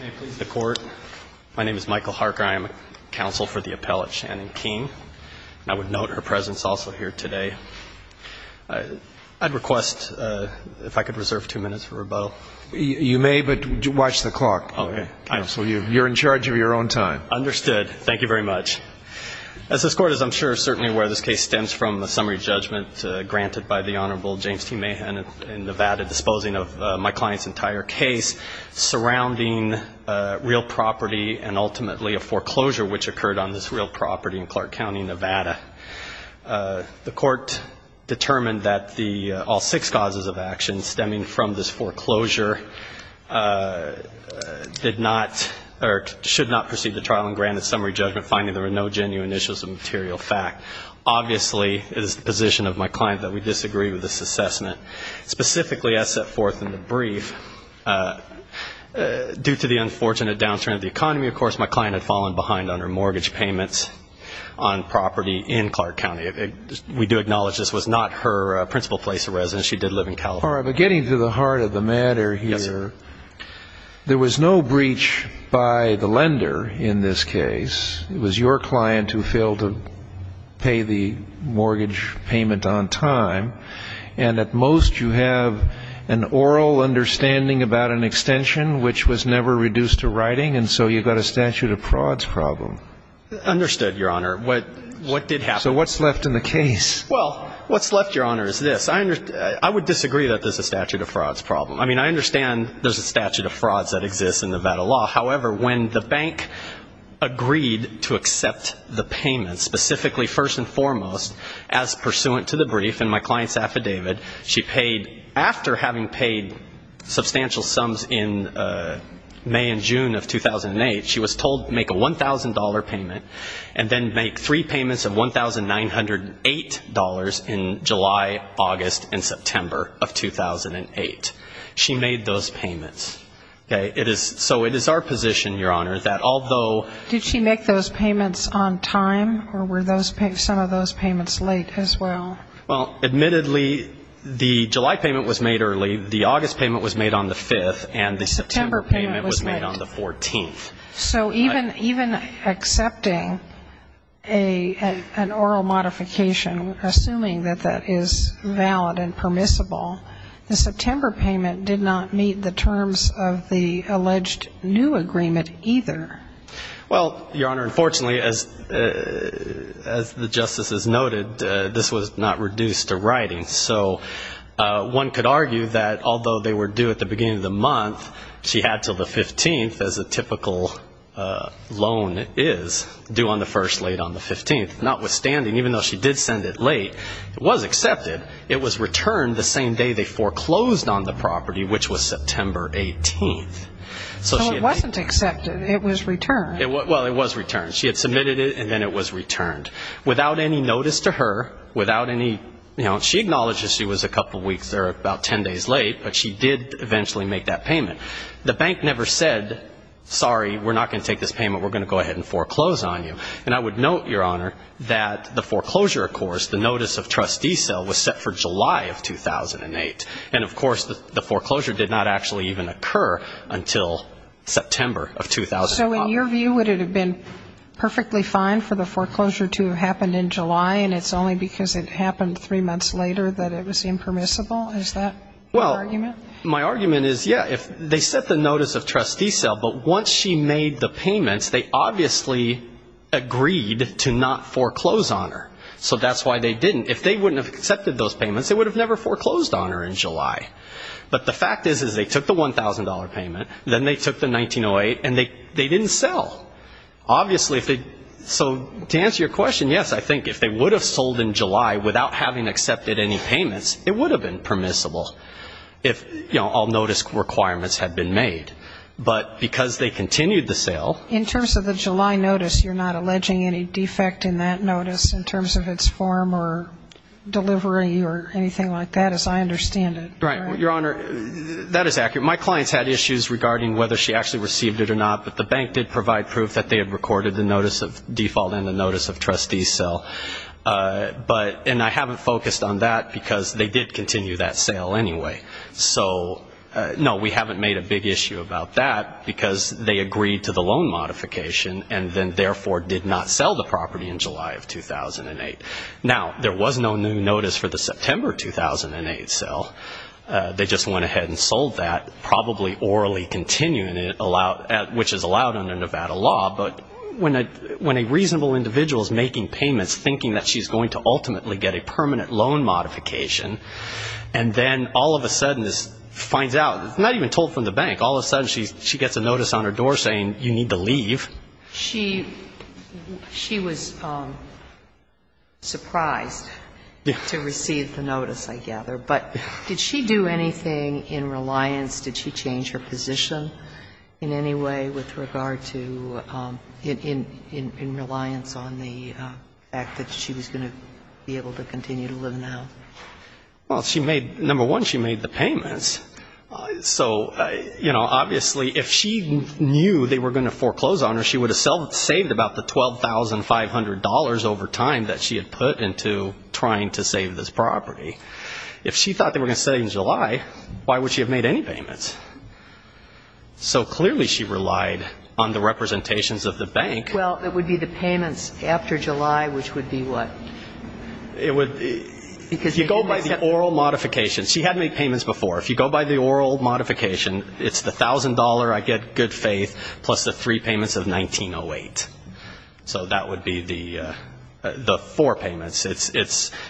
May it please the Court, my name is Michael Harker. I am a counsel for the appellate, Shannon King, and I would note her presence also here today. I'd request, if I could reserve two minutes for rebuttal. You may, but watch the clock. Okay. Counsel, you're in charge of your own time. Understood. Thank you very much. As this Court is, I'm sure, certainly aware, this case stems from a summary judgment granted by the Honorable James T. Mahan in Nevada disposing of my client's entire case, surrounding real property and ultimately a foreclosure which occurred on this real property in Clark County, Nevada. The Court determined that all six causes of action stemming from this foreclosure did not, or should not proceed to trial and granted summary judgment, finding there were no genuine issues of material fact. Obviously, it is the position of my client that we disagree with this assessment. Specifically, as set forth in the brief, due to the unfortunate downturn of the economy, of course, my client had fallen behind on her mortgage payments on property in Clark County. We do acknowledge this was not her principal place of residence. She did live in California. All right, but getting to the heart of the matter here, there was no breach by the lender in this case. It was your client who failed to pay the mortgage payment on time. And at most, you have an oral understanding about an extension which was never reduced to writing, and so you've got a statute of frauds problem. Understood, Your Honor. What did happen? So what's left in the case? Well, what's left, Your Honor, is this. I would disagree that there's a statute of frauds problem. I mean, I understand there's a statute of frauds that exists in Nevada law. However, when the bank agreed to accept the payment, specifically, first and foremost, as pursuant to the brief, and my client's affidavit, she paid, after having paid substantial sums in May and June of 2008, she was told to make a $1,000 payment and then make three payments of $1,908 in July, August, and September of 2008. She made those payments. So it is our position, Your Honor, that although ---- Did she make those payments on time, or were some of those payments late as well? Well, admittedly, the July payment was made early, the August payment was made on the 5th, and the September payment was made on the 14th. So even accepting an oral modification, assuming that that is valid and permissible, the September payment did not meet the terms of the alleged new agreement either. Well, Your Honor, unfortunately, as the justices noted, this was not reduced to writing. So one could argue that although they were due at the beginning of the month, she had until the 15th, as a typical loan is, due on the 1st, late on the 15th. Notwithstanding, even though she did send it late, it was accepted. It was returned the same day they foreclosed on the property, which was September 18th. So it wasn't accepted. It was returned. Well, it was returned. She had submitted it, and then it was returned. Without any notice to her, without any ---- She acknowledges she was a couple of weeks or about 10 days late, but she did eventually make that payment. The bank never said, sorry, we're not going to take this payment. We're going to go ahead and foreclose on you. And I would note, Your Honor, that the foreclosure, of course, the notice of trustee sale, was set for July of 2008. And, of course, the foreclosure did not actually even occur until September of 2008. So in your view, would it have been perfectly fine for the foreclosure to have happened in July, and it's only because it happened three months later that it was impermissible? Is that your argument? Well, my argument is, yeah, they set the notice of trustee sale, but once she made the payments, they obviously agreed to not foreclose on her. So that's why they didn't. If they wouldn't have accepted those payments, they would have never foreclosed on her in July. But the fact is, is they took the $1,000 payment, then they took the 1908, and they didn't sell. Obviously, so to answer your question, yes, I think if they would have sold in July without having accepted any payments, it would have been permissible if all notice requirements had been made. But because they continued the sale ---- In terms of the July notice, you're not alleging any defect in that notice in terms of its form or delivery or anything like that, as I understand it? Right. Your Honor, that is accurate. My client's had issues regarding whether she actually received it or not, but the bank did provide proof that they had recorded the notice of default and the notice of trustee sale. And I haven't focused on that because they did continue that sale anyway. So, no, we haven't made a big issue about that because they agreed to the loan modification, and then therefore did not sell the property in July of 2008. Now, there was no new notice for the September 2008 sale. They just went ahead and sold that, probably orally continuing it, which is allowed under Nevada law. But when a reasonable individual is making payments, thinking that she's going to ultimately get a permanent loan modification, and then all of a sudden finds out, not even told from the bank, all of a sudden she gets a notice on her door saying you need to leave. She was surprised to receive the notice, I gather. But did she do anything in reliance, did she change her position in any way with regard to, in reliance on the fact that she was going to be able to continue to live in the house? Well, she made, number one, she made the payments. So, you know, obviously if she knew they were going to foreclose on her, she would have saved about the $12,500 over time that she had put into trying to save this property. If she thought they were going to sell you in July, why would she have made any payments? So clearly she relied on the representations of the bank. Well, it would be the payments after July, which would be what? It would be, if you go by the oral modification, she had made payments before. If you go by the oral modification, it's the $1,000 I get, good faith, plus the three payments of 1908. So that would be the four payments,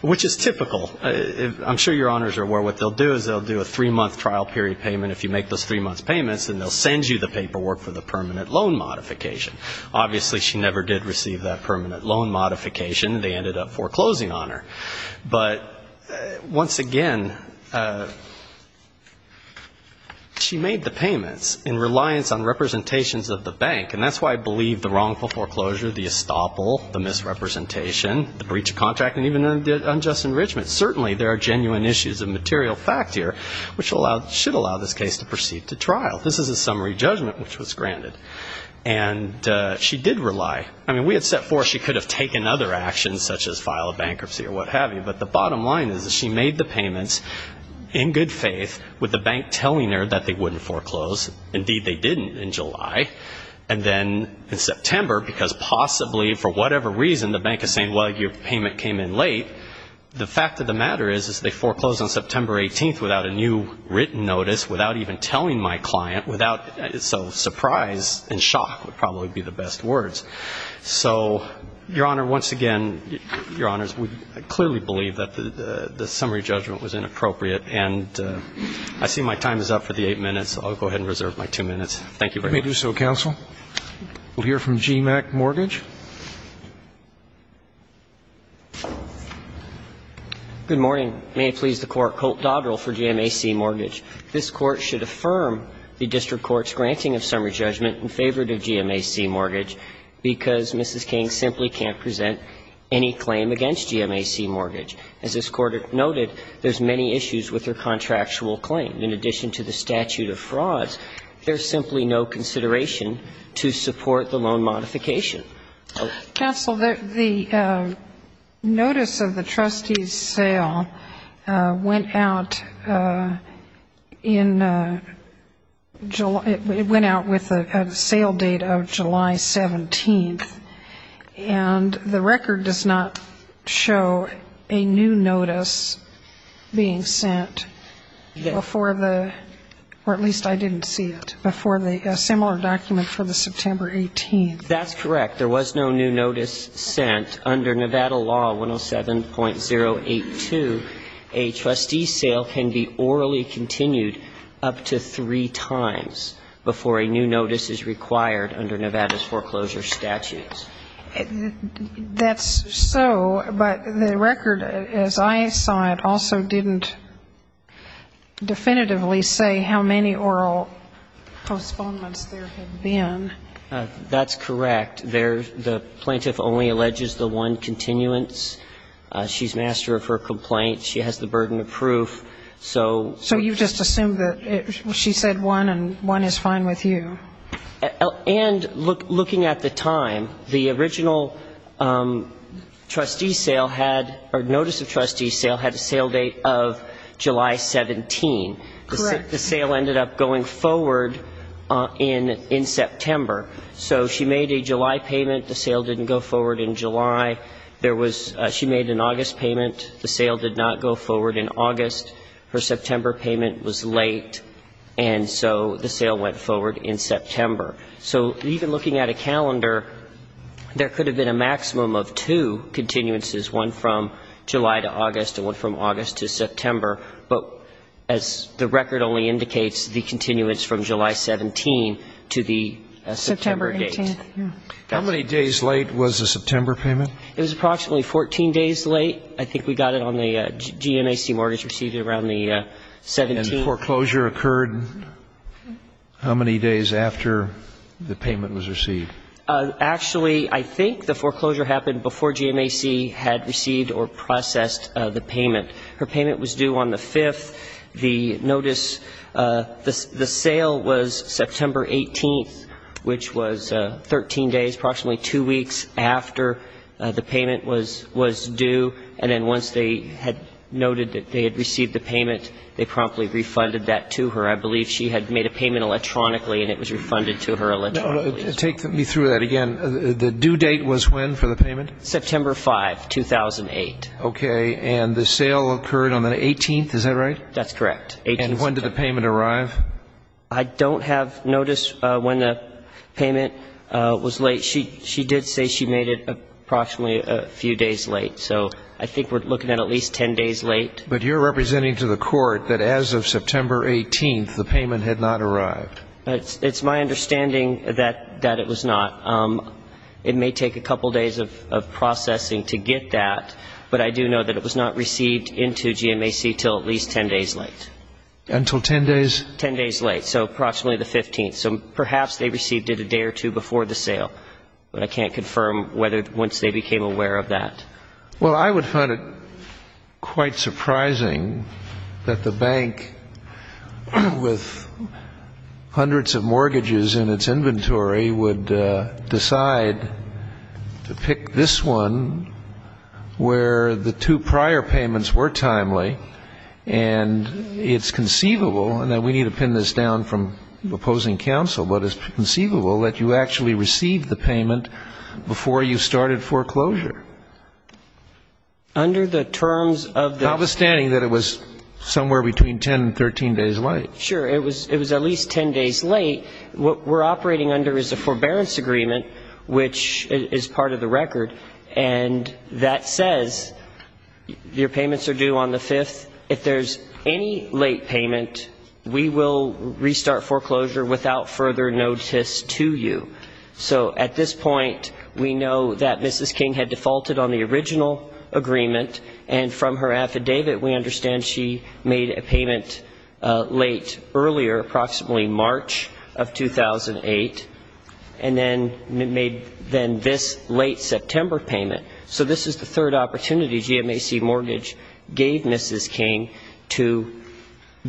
which is typical. I'm sure your honors are aware what they'll do is they'll do a three-month trial period payment. If you make those three-month payments, then they'll send you the paperwork for the permanent loan modification. Obviously she never did receive that permanent loan modification. They ended up foreclosing on her. But once again, she made the payments in reliance on representations of the bank, and that's why I believe the wrongful foreclosure, the estoppel, the misrepresentation, the breach of contract, and even unjust enrichment. Certainly there are genuine issues of material fact here, which should allow this case to proceed to trial. This is a summary judgment which was granted. And she did rely. I mean, we had set forth she could have taken other actions, such as file a bankruptcy or what have you, but the bottom line is that she made the payments in good faith, with the bank telling her that they wouldn't foreclose. Indeed, they didn't in July. And then in September, because possibly for whatever reason the bank is saying, well, your payment came in late, the fact of the matter is they foreclosed on September 18th without a new written notice, without even telling my client, without so surprise and shock would probably be the best words. So, Your Honor, once again, Your Honors, we clearly believe that the summary judgment was inappropriate. And I see my time is up for the eight minutes. I'll go ahead and reserve my two minutes. Thank you very much. Let me do so, counsel. We'll hear from GMAC Mortgage. Good morning. May it please the Court. Colt Dodrill for GMAC Mortgage. This Court should affirm the district court's granting of summary judgment in favor of GMAC Mortgage because Mrs. King simply can't present any claim against GMAC Mortgage. As this Court noted, there's many issues with her contractual claim. In addition to the statute of frauds, there's simply no consideration to support the loan modification. Counsel, the notice of the trustee's sale went out in July. It went out with a sale date of July 17th. And the record does not show a new notice being sent before the, or at least I didn't see it, before the similar document for the September 18th. That's correct. There was no new notice sent. Under Nevada law 107.082, a trustee's sale can be orally continued up to three times before a new notice is required under Nevada's foreclosure statutes. That's so, but the record, as I saw it, also didn't definitively say how many oral postponements there had been. That's correct. The plaintiff only alleges the one continuance. She's master of her complaint. She has the burden of proof. So you just assume that she said one and one is fine with you. And looking at the time, the original trustee's sale had, or notice of trustee's sale, had a sale date of July 17th. Correct. The sale ended up going forward in September. So she made a July payment. The sale didn't go forward in July. There was, she made an August payment. The sale did not go forward in August. Her September payment was late. And so the sale went forward in September. So even looking at a calendar, there could have been a maximum of two continuances, one from July to August and one from August to September. But as the record only indicates, the continuance from July 17th to the September date. September 18th, yeah. How many days late was the September payment? It was approximately 14 days late. I think we got it on the GMAC mortgage received around the 17th. And foreclosure occurred how many days after the payment was received? Actually, I think the foreclosure happened before GMAC had received or processed the payment. Her payment was due on the 5th. The notice, the sale was September 18th, which was 13 days, approximately two weeks after the payment was due. And then once they had noted that they had received the payment, they promptly refunded that to her. I believe she had made a payment electronically and it was refunded to her electronically. Take me through that again. The due date was when for the payment? September 5, 2008. Okay. And the sale occurred on the 18th, is that right? That's correct. And when did the payment arrive? I don't have notice when the payment was late. She did say she made it approximately a few days late. So I think we're looking at at least 10 days late. But you're representing to the court that as of September 18th, the payment had not arrived. It's my understanding that it was not. It may take a couple days of processing to get that. But I do know that it was not received into GMAC until at least 10 days late. Until 10 days? 10 days late. So approximately the 15th. So perhaps they received it a day or two before the sale. But I can't confirm whether once they became aware of that. Well, I would find it quite surprising that the bank, with hundreds of mortgages in its inventory, would decide to pick this one where the two prior payments were timely. And it's conceivable, and we need to pin this down from opposing counsel, but it's conceivable that you actually received the payment before you started foreclosure. Under the terms of the ---- Notwithstanding that it was somewhere between 10 and 13 days late. Sure. It was at least 10 days late. What we're operating under is a forbearance agreement, which is part of the record, and that says your payments are due on the 5th. If there's any late payment, we will restart foreclosure without further notice to you. So at this point, we know that Mrs. King had defaulted on the original agreement, and from her affidavit we understand she made a payment late earlier, approximately March of 2008, and then made this late September payment. So this is the third opportunity GMAC Mortgage gave Mrs. King to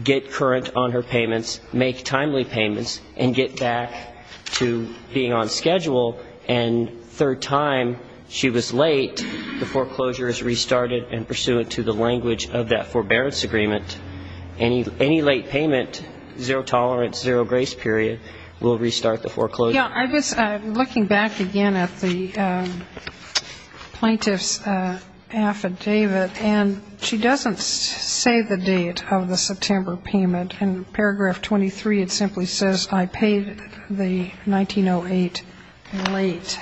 get current on her payments, make timely payments, and get back to being on schedule. And third time she was late, the foreclosure is restarted and pursuant to the language of that forbearance agreement, any late payment, zero tolerance, zero grace period, we'll restart the foreclosure. Yeah, I'm looking back again at the plaintiff's affidavit, and she doesn't say the date of the September payment. In paragraph 23, it simply says, I paid the 1908 late,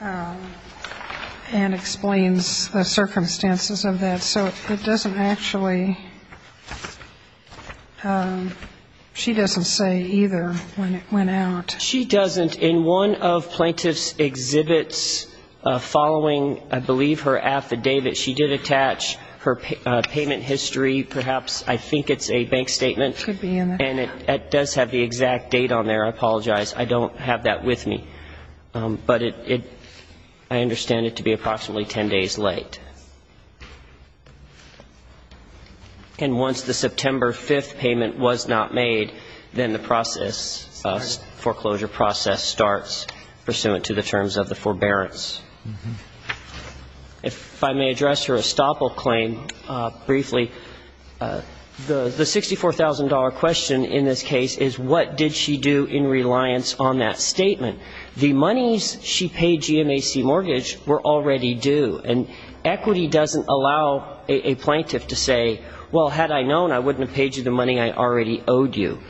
and explains the circumstances of that. So it doesn't actually, she doesn't say either when it went out. She doesn't. In one of plaintiff's exhibits following, I believe, her affidavit, she did attach her payment history, perhaps, I think it's a bank statement. It could be. And it does have the exact date on there. I apologize. I don't have that with me. But I understand it to be approximately ten days late. And once the September 5th payment was not made, then the process, foreclosure process starts pursuant to the terms of the forbearance. If I may address her estoppel claim briefly, the $64,000 question in this case is what did she do in reliance on that statement? The monies she paid GMAC mortgage were already due. And equity doesn't allow a plaintiff to say, well, had I known, I wouldn't have paid you the money I already owed you.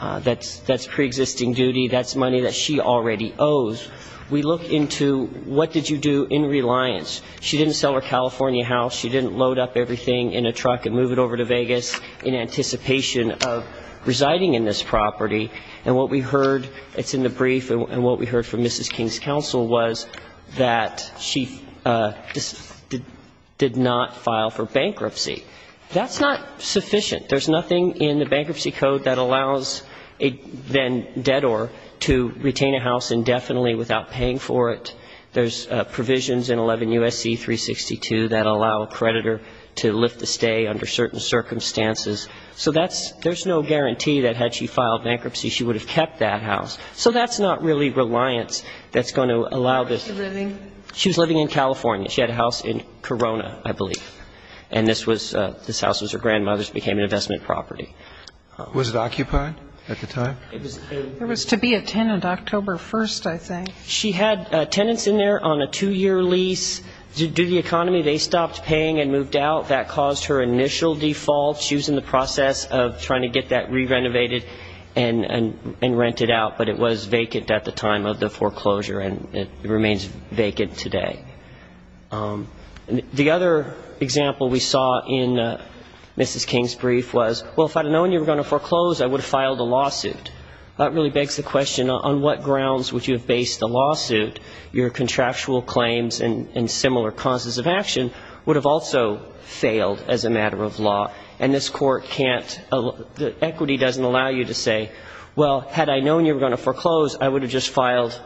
That's preexisting duty. That's money that she already owes. We look into what did you do in reliance. She didn't sell her California house. She didn't load up everything in a truck and move it over to Vegas in anticipation of residing in this property. And what we heard, it's in the brief, and what we heard from Mrs. King's counsel was that she did not file for bankruptcy. That's not sufficient. There's nothing in the bankruptcy code that allows a debtor to retain a house indefinitely without paying for it. There's provisions in 11 U.S.C. 362 that allow a creditor to lift a stay under certain circumstances. So there's no guarantee that had she filed bankruptcy, she would have kept that house. So that's not really reliance that's going to allow this. Where was she living? She was living in California. She had a house in Corona, I believe. And this house was her grandmother's, became an investment property. Was it occupied at the time? It was to be a tenant October 1st, I think. She had tenants in there on a two-year lease. Due to the economy, they stopped paying and moved out. That caused her initial default. She was in the process of trying to get that re-renovated and rented out, but it was vacant at the time of the foreclosure, and it remains vacant today. The other example we saw in Mrs. King's brief was, well, if I had known you were going to foreclose, I would have filed a lawsuit. That really begs the question, on what grounds would you have based the lawsuit? Your contractual claims and similar causes of action would have also failed as a matter of law, and this Court can't ‑‑ equity doesn't allow you to say, well, had I known you were going to foreclose, I would have just filed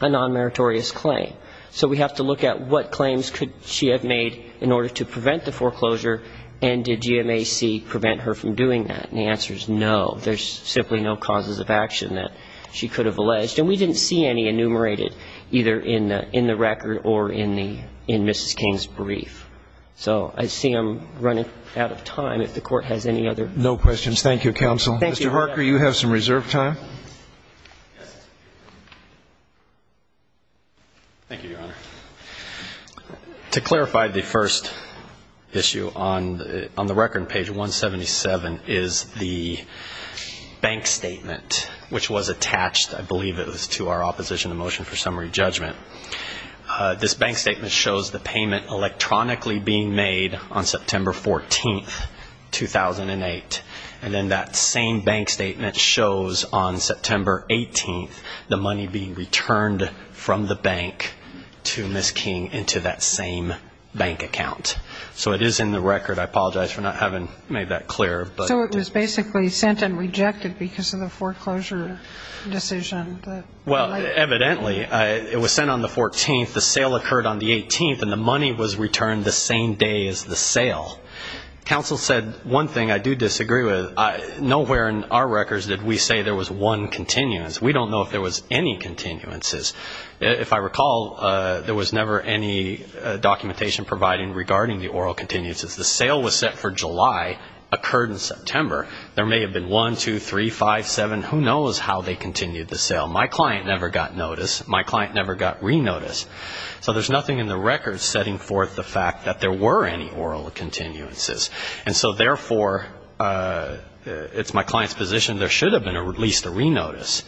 a nonmeritorious claim. So we have to look at what claims could she have made in order to prevent the foreclosure, and did GMAC prevent her from doing that? And the answer is no. There's simply no causes of action that she could have alleged. And we didn't see any enumerated either in the record or in Mrs. King's brief. So I see I'm running out of time. If the Court has any other questions. No questions. Thank you, counsel. Thank you, Your Honor. Mr. Harker, you have some reserve time. Thank you, Your Honor. To clarify, the first issue on the record in page 177 is the bank statement, which was attached, I believe it was, to our opposition to motion for summary judgment. This bank statement shows the payment electronically being made on September 14th, 2008, and then that same bank statement shows on September 18th the money being returned from the bank to Mrs. King into that same bank account. So it is in the record. I apologize for not having made that clear. So it was basically sent and rejected because of the foreclosure decision. Well, evidently it was sent on the 14th, the sale occurred on the 18th, and the money was returned the same day as the sale. Counsel said one thing I do disagree with. Nowhere in our records did we say there was one continuance. We don't know if there was any continuances. If I recall, there was never any documentation provided regarding the oral continuances. The sale was set for July, occurred in September. There may have been one, two, three, five, seven, who knows how they continued the sale. My client never got notice. My client never got re-notice. So there's nothing in the record setting forth the fact that there were any oral continuances. And so, therefore, it's my client's position there should have been at least a re-notice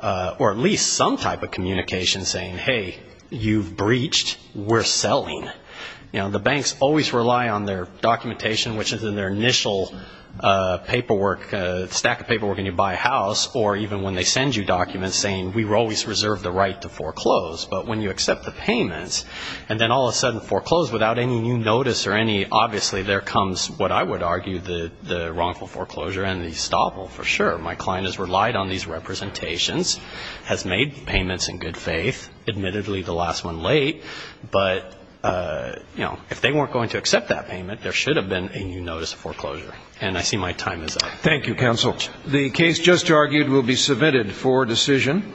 or at least some type of communication saying, hey, you've breached, we're selling. You know, the banks always rely on their documentation, which is in their initial paperwork, stack of paperwork when you buy a house, or even when they send you documents saying we always reserve the right to foreclose. But when you accept the payments and then all of a sudden foreclose without any new notice or any, obviously there comes what I would argue the wrongful foreclosure and the estoppel for sure. My client has relied on these representations, has made payments in good faith, admittedly the last one late. But, you know, if they weren't going to accept that payment, there should have been a new notice of foreclosure. And I see my time is up. Thank you, counsel. The case just argued will be submitted for decision.